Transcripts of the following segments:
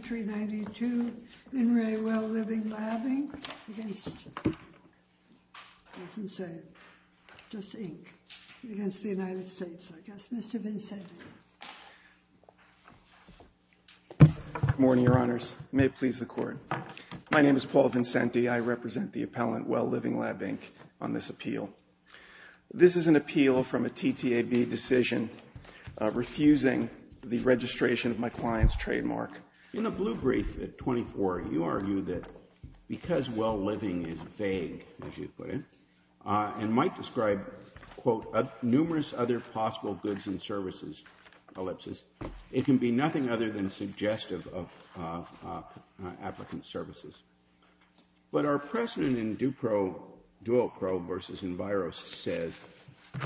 392, Vin Ray Well Living Lab Inc. against, I wasn't saying, just Inc., against the United States, I guess. Mr. Vincenti. Good morning, Your Honors. May it please the Court. My name is Paul Vincenti. I represent the appellant Well Living Lab Inc. on this appeal. This is an appeal from a TTAB decision refusing the registration of my client's trademark. In the blue brief at 24, you argue that because well living is vague, as you put it, and might describe, quote, numerous other possible goods and services, ellipsis, it can be nothing other than suggestive of applicant services. But our precedent in Dupro, Duopro versus Enviro says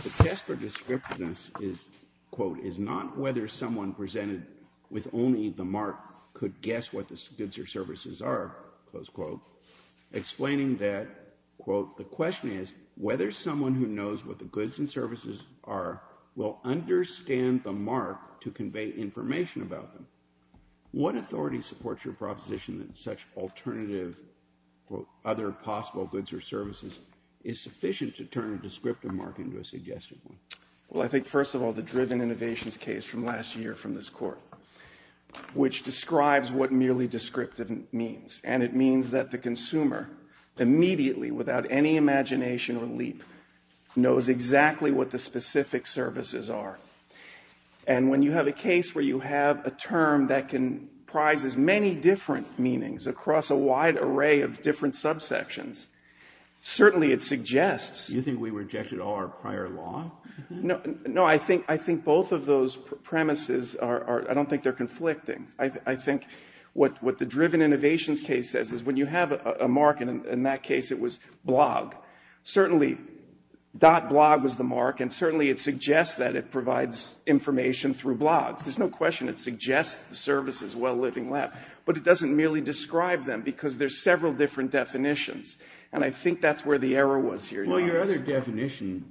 the test for descriptiveness is, quote, is not whether someone presented with only the mark could guess what the goods or services are, close quote. Explaining that, quote, the question is whether someone who knows what the goods and services are will understand the mark to convey information about them. What authority supports your proposition that such alternative, quote, other possible goods or services is sufficient to turn a descriptive mark into a suggestive one? Well, I think, first of all, the Driven Innovations case from last year from this Court, which describes what merely descriptive means. And it means that the consumer immediately, without any imagination or leap, knows exactly what the specific services are. And when you have a case where you have a term that comprises many different meanings across a wide array of different subsections, certainly it suggests Do you think we rejected all our prior law? No, I think both of those premises are, I don't think they're conflicting. I think what the Driven Innovations case says is when you have a mark, and in that case it was blog, certainly dot blog was the mark and certainly it suggests that it provides information through blogs. There's no question it suggests the services, well-living lab. But it doesn't merely describe them because there's several different definitions. And I think that's where the error was here. Well, your other definition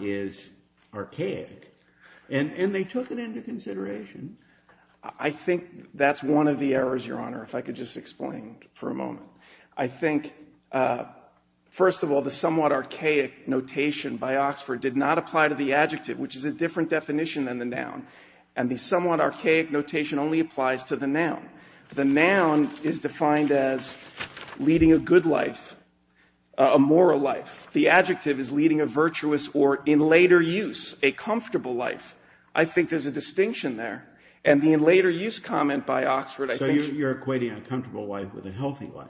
is archaic. And they took it into consideration. I think that's one of the errors, Your Honor, if I could just explain for a moment. I think, first of all, the somewhat archaic notation by Oxford did not apply to the adjective, which is a different definition than the noun. And the somewhat archaic notation only applies to the noun. The noun is defined as leading a good life, a moral life. The adjective is leading a virtuous or, in later use, a comfortable life. I think there's a distinction there. And the in later use comment by Oxford, I think So you're equating a comfortable life with a healthy life.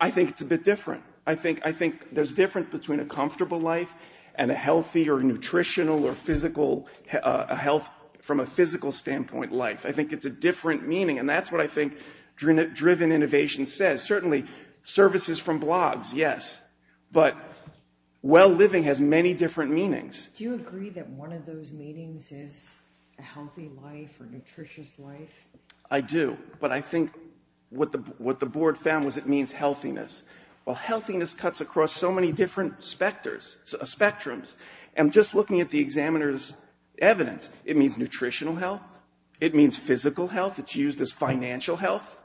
I think it's a bit different. I think there's difference between a comfortable life and a healthy or nutritional or physical health from a physical standpoint life. I think it's a different meaning. And that's what I think driven innovation says. Certainly services from blogs, yes. But well living has many different meanings. Do you agree that one of those meanings is a healthy life or nutritious life? I do. But I think what the board found was it means healthiness. Well, healthiness cuts across so many different specters, spectrums. And just looking at the examiner's evidence, it means nutritional health. It means physical health. It's used as financial health.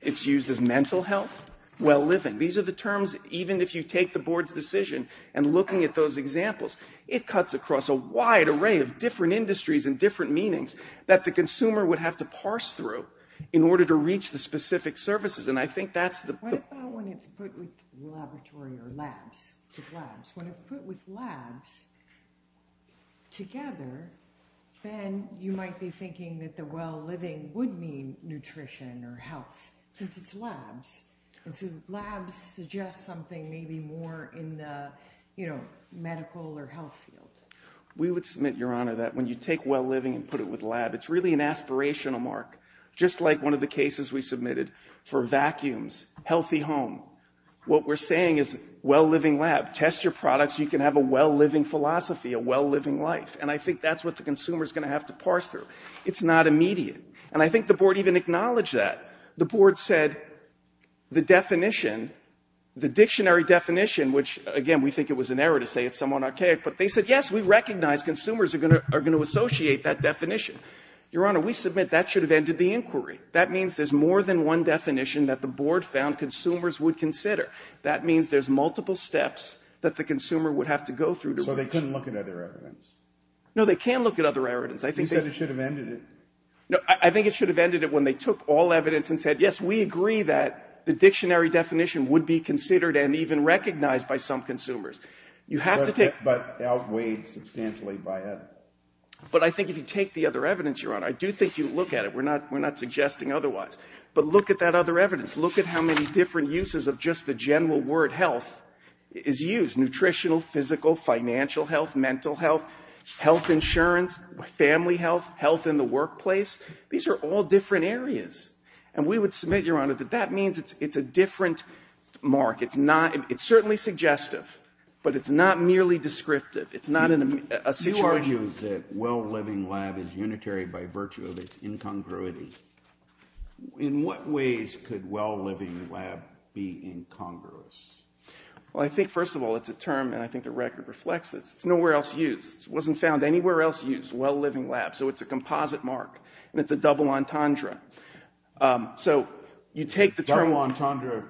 It's used as mental health. Well living. These are the terms even if you take the board's decision and looking at those examples, it cuts across a wide array of different industries and different meanings that the consumer would have to parse through in order to reach the specific services. And I think that's the What about when it's put with laboratory or labs? When it's put with labs together, then you might be thinking that the well living would mean nutrition or health since it's labs. And so labs suggest something maybe more in the medical or health field. We would submit, Your Honor, that when you take well living and put it with lab, it's really an aspirational mark. Just like one of the cases we submitted for vacuums, healthy home. What we're saying is well living lab. Test your products. You can have a well living philosophy, a well living life. And I think that's what the consumer is going to have to parse through. It's not immediate. And I think the board even acknowledged that. The board said the definition, the dictionary definition, which, again, we think it was an error to say it's somewhat archaic, but they said, Yes, we recognize consumers are going to associate that definition. Your Honor, we submit that should have ended the inquiry. That means there's more than one definition that the board found consumers would consider. That means there's multiple steps that the consumer would have to go through to reach. So they couldn't look at other evidence. No, they can look at other evidence. You said it should have ended it. I think it should have ended it when they took all evidence and said, Yes, we agree that the dictionary definition would be considered and even recognized by some consumers. But outweighed substantially by others. But I think if you take the other evidence, Your Honor, I do think you look at it. We're not suggesting otherwise. But look at that other evidence. Look at how many different uses of just the general word health is used, nutritional, physical, financial health, mental health, health insurance, family health, health in the workplace. These are all different areas. And we would submit, Your Honor, that that means it's a different mark. It's not — it's certainly suggestive, but it's not merely descriptive. It's not a situation — In what ways could well-living lab be incongruous? Well, I think, first of all, it's a term, and I think the record reflects this. It's nowhere else used. It wasn't found anywhere else used, well-living lab. So it's a composite mark, and it's a double entendre. So you take the term — Double entendre.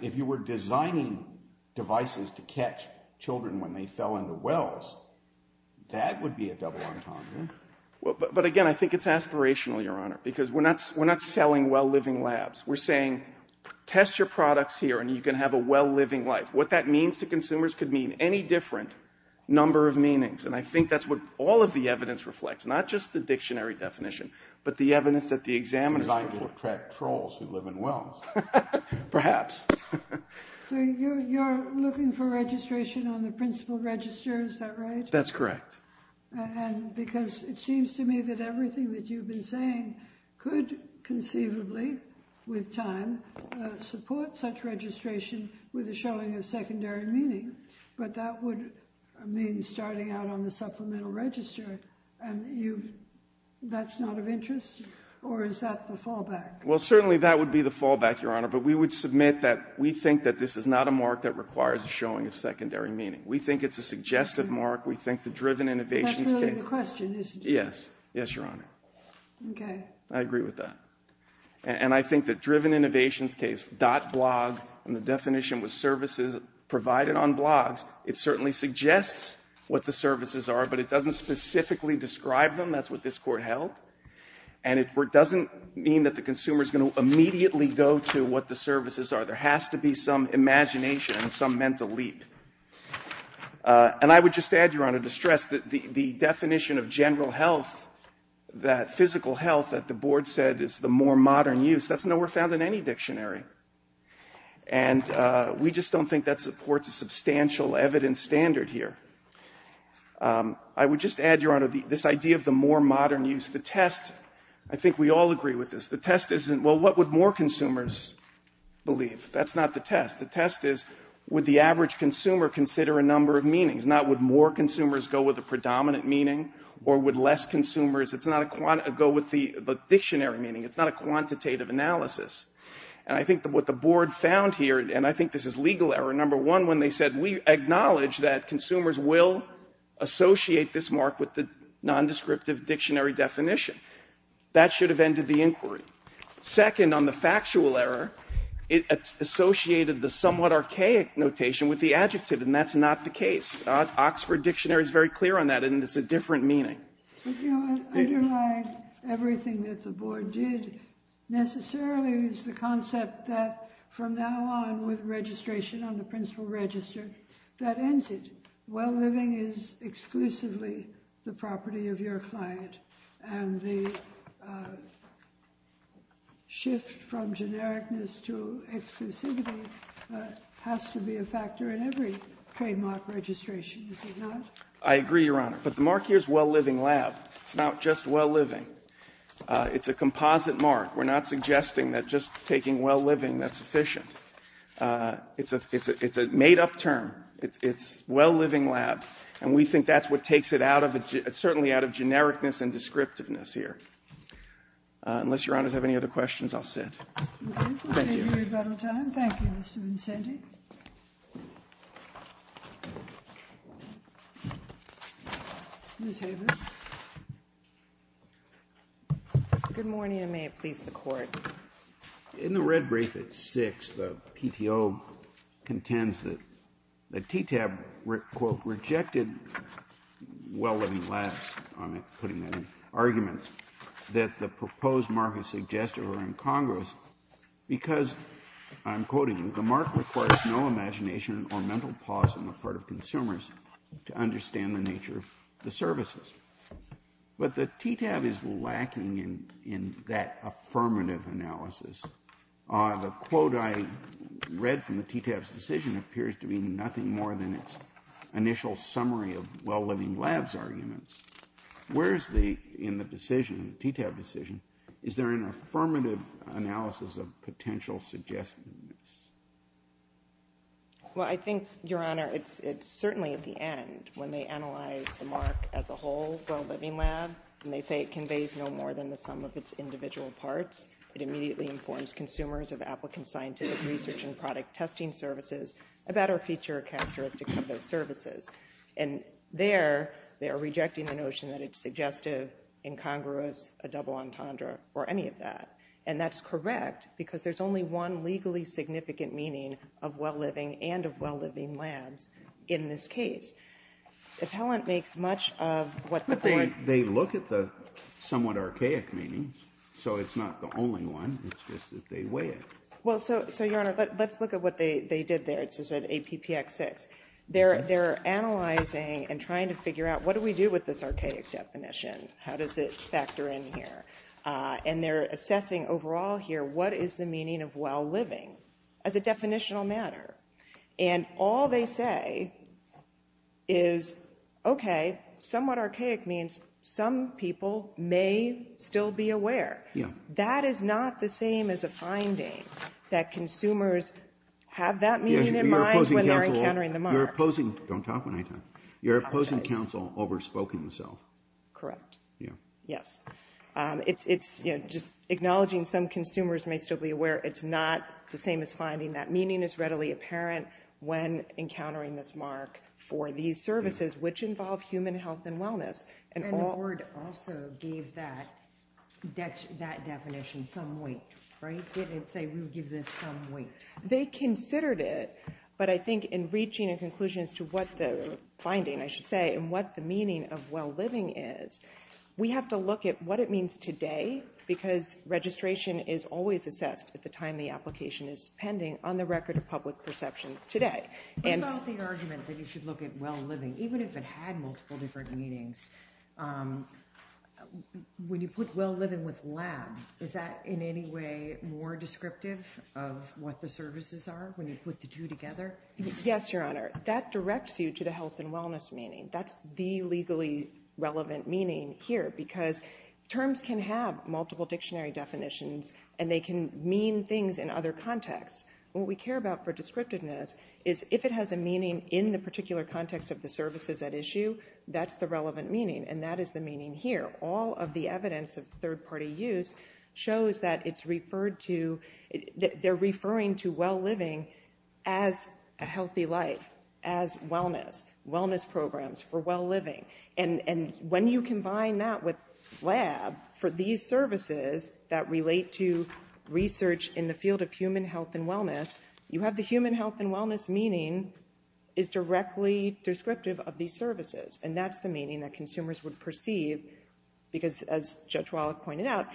If you were designing devices to catch children when they fell into wells, that would be a double entendre. But again, I think it's aspirational, Your Honor, because we're not selling well-living labs. We're saying test your products here, and you can have a well-living life. What that means to consumers could mean any different number of meanings. And I think that's what all of the evidence reflects, not just the dictionary definition, but the evidence that the examiner — Designed to attract trolls who live in wells. Perhaps. So you're looking for registration on the principal register, is that right? That's correct. And because it seems to me that everything that you've been saying could conceivably, with time, support such registration with a showing of secondary meaning. But that would mean starting out on the supplemental register, and that's not of interest? Or is that the fallback? Well, certainly that would be the fallback, Your Honor. But we would submit that we think that this is not a mark that requires a showing of secondary meaning. We think it's a suggestive mark. We think the Driven Innovations case — But that's really the question, isn't it? Yes. Yes, Your Honor. Okay. I agree with that. And I think the Driven Innovations case, .blog, and the definition was services provided on blogs, it certainly suggests what the services are, but it doesn't specifically describe them. That's what this Court held. And it doesn't mean that the consumer is going to immediately go to what the services are. There has to be some imagination and some mental leap. And I would just add, Your Honor, to stress that the definition of general health, that physical health that the Board said is the more modern use, that's nowhere found in any dictionary. And we just don't think that supports a substantial evidence standard here. I would just add, Your Honor, this idea of the more modern use. The test — I think we all agree with this. The test isn't, well, what would more consumers believe? That's not the test. The test is would the average consumer consider a number of meanings, not would more consumers go with a predominant meaning or would less consumers go with the dictionary meaning. It's not a quantitative analysis. And I think what the Board found here, and I think this is legal error, number one, when they said we acknowledge that consumers will associate this mark with the nondescriptive dictionary definition. That should have ended the inquiry. Second, on the factual error, it associated the somewhat archaic notation with the adjective, and that's not the case. Oxford Dictionary is very clear on that, and it's a different meaning. But, you know, underlying everything that the Board did necessarily is the concept that from now on with registration on the principal register, that ends it. Well, living is exclusively the property of your client. And the shift from genericness to exclusivity has to be a factor in every trademark registration. Is it not? I agree, Your Honor. But the mark here is well-living lab. It's not just well-living. It's a composite mark. We're not suggesting that just taking well-living, that's sufficient. It's a made-up term. It's well-living lab. And we think that's what takes it out of, certainly out of genericness and descriptiveness here. Unless Your Honor has any other questions, I'll sit. Thank you. Thank you, Mr. Vincenti. Ms. Haber. Good morning, and may it please the Court. In the red brief at 6, the PTO contends that the TTAB, quote, rejected well-living lab, I'm putting that in arguments, that the proposed mark is suggestive or incongruous because, I'm quoting, the mark requires no imagination or mental pause on the part of consumers to understand the nature of the services. But the TTAB is lacking in that affirmative analysis. The quote I read from the TTAB's decision appears to be nothing more than its initial summary of well-living lab's arguments. Where is the, in the decision, the TTAB decision, is there an affirmative analysis of potential suggestiveness? Well, I think, Your Honor, it's certainly at the end when they analyze the mark as a whole, well-living lab, and they say it conveys no more than the sum of its individual parts. It immediately informs consumers of applicant scientific research and product testing services about our feature characteristic of those services. And there, they are rejecting the notion that it's suggestive, incongruous, a double entendre, or any of that. And that's correct because there's only one legally significant meaning of well-living and of well-living labs in this case. Appellant makes much of what the court… But they look at the somewhat archaic meanings, so it's not the only one. It's just that they weigh it. Well, so, Your Honor, let's look at what they did there. It says that APPX6. They're analyzing and trying to figure out what do we do with this archaic definition? How does it factor in here? And they're assessing overall here what is the meaning of well-living as a definitional matter? And all they say is, okay, somewhat archaic means some people may still be aware. Yeah. That is not the same as a finding that consumers have that meaning in mind when they're encountering the mark. You're opposing… Don't talk when I talk. You're opposing counsel over spoken self. Correct. Yeah. Yes. It's just acknowledging some consumers may still be aware. It's not the same as finding that meaning is readily apparent when encountering this mark for these services, which involve human health and wellness. And the board also gave that definition some weight, right? Didn't it say we would give this some weight? They considered it, but I think in reaching a conclusion as to what the finding, I should say, and what the meaning of well-living is, we have to look at what it means today because registration is always assessed at the time the application is pending on the record of public perception today. About the argument that you should look at well-living, even if it had multiple different meanings, when you put well-living with lab, is that in any way more descriptive of what the services are when you put the two together? Yes, Your Honor. That directs you to the health and wellness meaning. That's the legally relevant meaning here because terms can have multiple dictionary definitions, and they can mean things in other contexts. What we care about for descriptiveness is if it has a meaning in the particular context of the services at issue, that's the relevant meaning, and that is the meaning here. All of the evidence of third-party use shows that it's referred to, they're referring to well-living as a healthy life, as wellness, wellness programs for well-living. And when you combine that with lab for these services that relate to research in the field of human health and wellness, you have the human health and wellness meaning is directly descriptive of these services, and that's the meaning that consumers would perceive because, as Judge Wallach pointed out,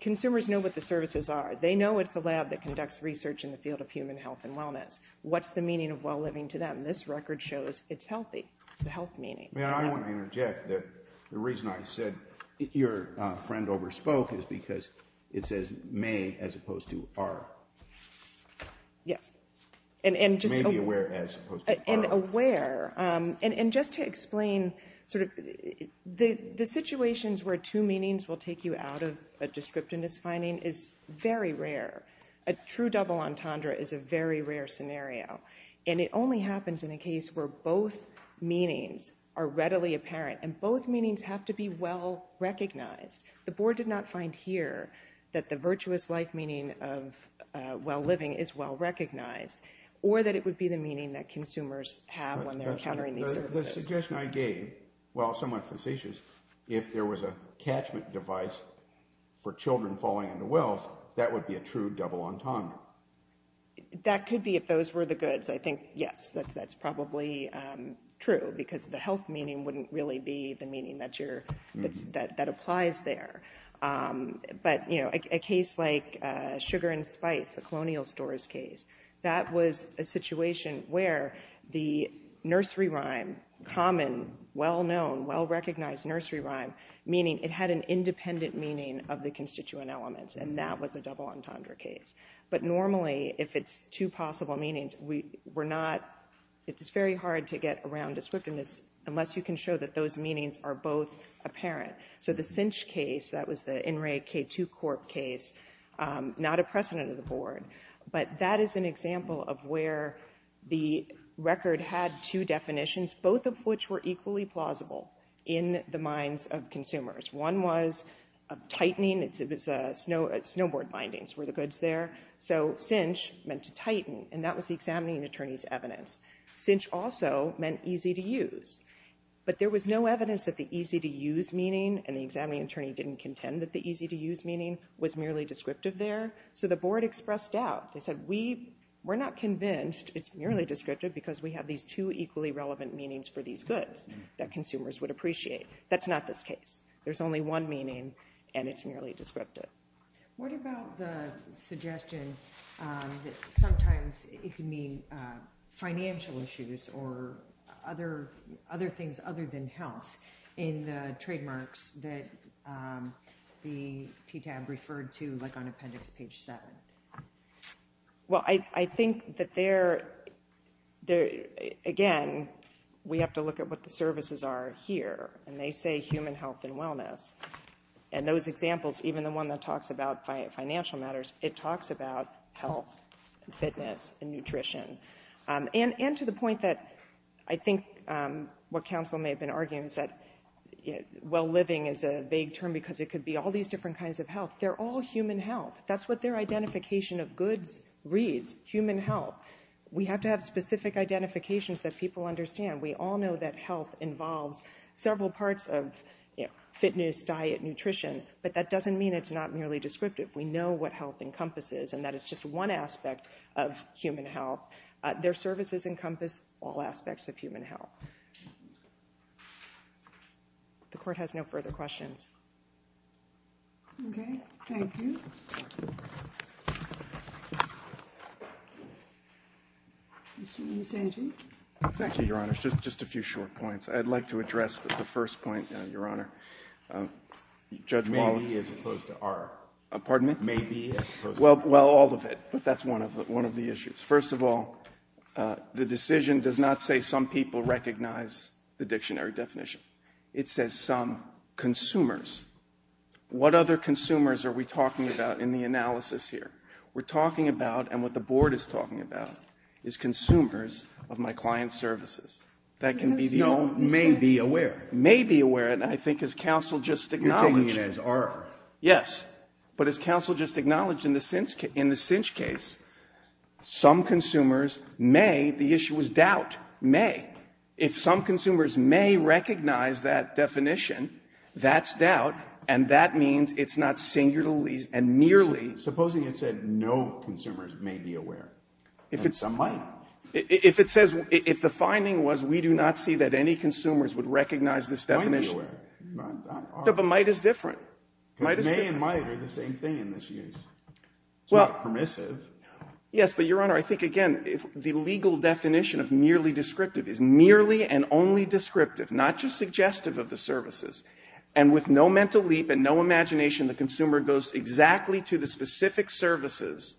consumers know what the services are. They know it's a lab that conducts research in the field of human health and wellness. What's the meaning of well-living to them? This record shows it's healthy. It's the health meaning. I want to interject that the reason I said your friend overspoke is because it says may as opposed to are. Yes. May be aware as opposed to are. And just to explain sort of the situations where two meanings will take you out of a descriptiveness finding is very rare. A true double entendre is a very rare scenario, and it only happens in a case where both meanings are readily apparent, and both meanings have to be well-recognized. The board did not find here that the virtuous life meaning of well-living is well-recognized or that it would be the meaning that consumers have when they're encountering these services. The suggestion I gave, while somewhat facetious, if there was a catchment device for children falling into wells, that would be a true double entendre. That could be if those were the goods. I think, yes, that's probably true because the health meaning wouldn't really be the meaning that applies there. But a case like sugar and spice, the colonial stores case, that was a situation where the nursery rhyme, common, well-known, well-recognized nursery rhyme, meaning it had an independent meaning of the constituent elements, and that was a double entendre case. But normally, if it's two possible meanings, we're not, it's very hard to get around descriptiveness unless you can show that those meanings are both apparent. So the cinch case, that was the NRA K2 Corp case, not a precedent of the board, but that is an example of where the record had two definitions, both of which were equally plausible in the minds of consumers. One was tightening, it was snowboard bindings were the goods there. So cinch meant to tighten, and that was the examining attorney's evidence. Cinch also meant easy to use. But there was no evidence that the easy to use meaning, and the examining attorney didn't contend that the easy to use meaning was merely descriptive there. So the board expressed doubt. They said, we're not convinced it's merely descriptive because we have these two equally relevant meanings for these goods that consumers would appreciate. That's not this case. There's only one meaning, and it's merely descriptive. What about the suggestion that sometimes it can mean financial issues or other things other than health in the trademarks that the TTAB referred to, like on appendix page 7? Well, I think that there, again, we have to look at what the services are here, and those examples, even the one that talks about financial matters, it talks about health and fitness and nutrition. And to the point that I think what counsel may have been arguing is that well-living is a vague term because it could be all these different kinds of health. They're all human health. That's what their identification of goods reads, human health. We have to have specific identifications that people understand. We all know that health involves several parts of fitness, diet, nutrition, but that doesn't mean it's not merely descriptive. We know what health encompasses and that it's just one aspect of human health. Their services encompass all aspects of human health. The Court has no further questions. Okay, thank you. Mr. Nisanti? Thank you, Your Honor. Just a few short points. I'd like to address the first point, Your Honor. Judge Wallace. Maybe as opposed to are. Pardon me? Maybe as opposed to are. Well, all of it, but that's one of the issues. First of all, the decision does not say some people recognize the dictionary definition. It says some consumers. What other consumers are we talking about in the analysis here? We're talking about, and what the Board is talking about, is consumers of my client's services. That can be the only thing. May be aware. May be aware, and I think as counsel just acknowledged. You're taking it as are. Yes. But as counsel just acknowledged in the cinch case, some consumers may, the issue was doubt, may. If some consumers may recognize that definition, that's doubt, and that means it's not singularly and merely. Supposing it said no consumers may be aware, and some might. If it says, if the finding was we do not see that any consumers would recognize this definition. Might be aware. But might is different. Because may and might are the same thing in this case. It's not permissive. Yes, but, Your Honor, I think, again, the legal definition of merely descriptive is merely and only descriptive, not just suggestive of the services. And with no mental leap and no imagination, the consumer goes exactly to the specific services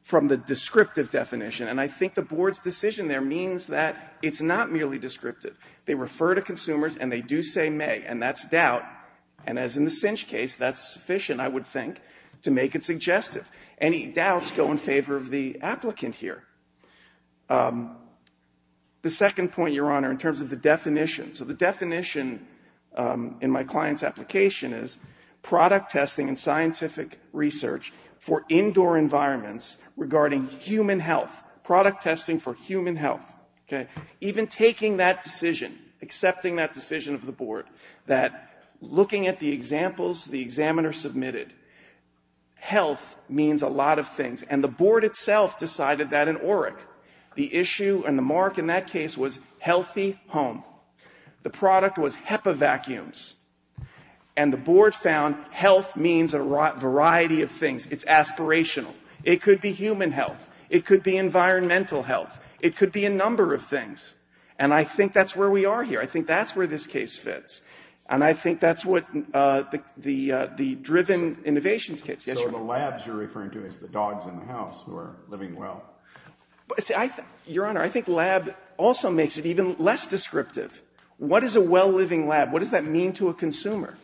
from the descriptive definition. And I think the Board's decision there means that it's not merely descriptive. They refer to consumers, and they do say may, and that's doubt. And as in the cinch case, that's sufficient, I would think, to make it suggestive. Any doubts go in favor of the applicant here. The second point, Your Honor, in terms of the definition. So the definition in my client's application is product testing and scientific research for indoor environments regarding human health. Product testing for human health. Okay. Even taking that decision, accepting that decision of the Board, that looking at the examples the examiner submitted, health means a lot of things. And the Board itself decided that in ORIC. The issue and the mark in that case was healthy home. The product was HEPA vacuums. And the Board found health means a variety of things. It's aspirational. It could be human health. It could be environmental health. It could be a number of things. And I think that's where we are here. I think that's where this case fits. And I think that's what the driven innovations case is. So the labs you're referring to is the dogs in the house who are living well. Your Honor, I think lab also makes it even less descriptive. What is a well-living lab? What does that mean to a consumer?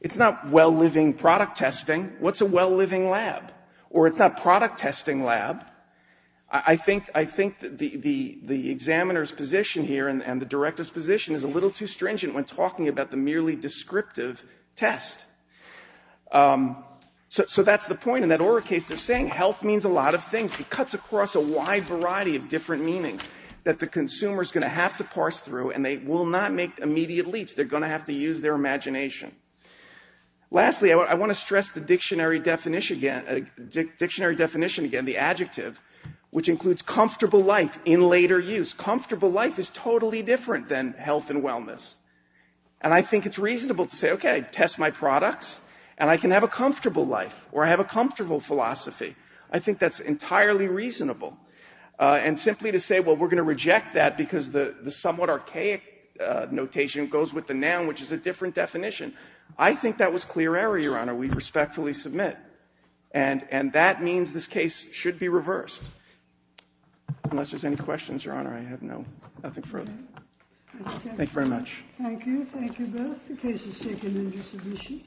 It's not well-living product testing. What's a well-living lab? Or it's not product testing lab. I think the examiner's position here and the Director's position is a little too stringent when talking about the merely descriptive test. So that's the point in that ORA case. They're saying health means a lot of things. It cuts across a wide variety of different meanings that the consumer's going to have to parse through and they will not make immediate leaps. They're going to have to use their imagination. Lastly, I want to stress the dictionary definition again, the adjective, which includes comfortable life in later use. Comfortable life is totally different than health and wellness. And I think it's reasonable to say, okay, test my products and I can have a comfortable life or I have a comfortable philosophy. I think that's entirely reasonable. And simply to say, well, we're going to reject that because the somewhat archaic notation goes with the noun, which is a different definition. I think that was clear error, Your Honor. We respectfully submit. And that means this case should be reversed. Unless there's any questions, Your Honor, I have nothing further. Thank you very much. Thank you. Thank you both. The case is taken under submission.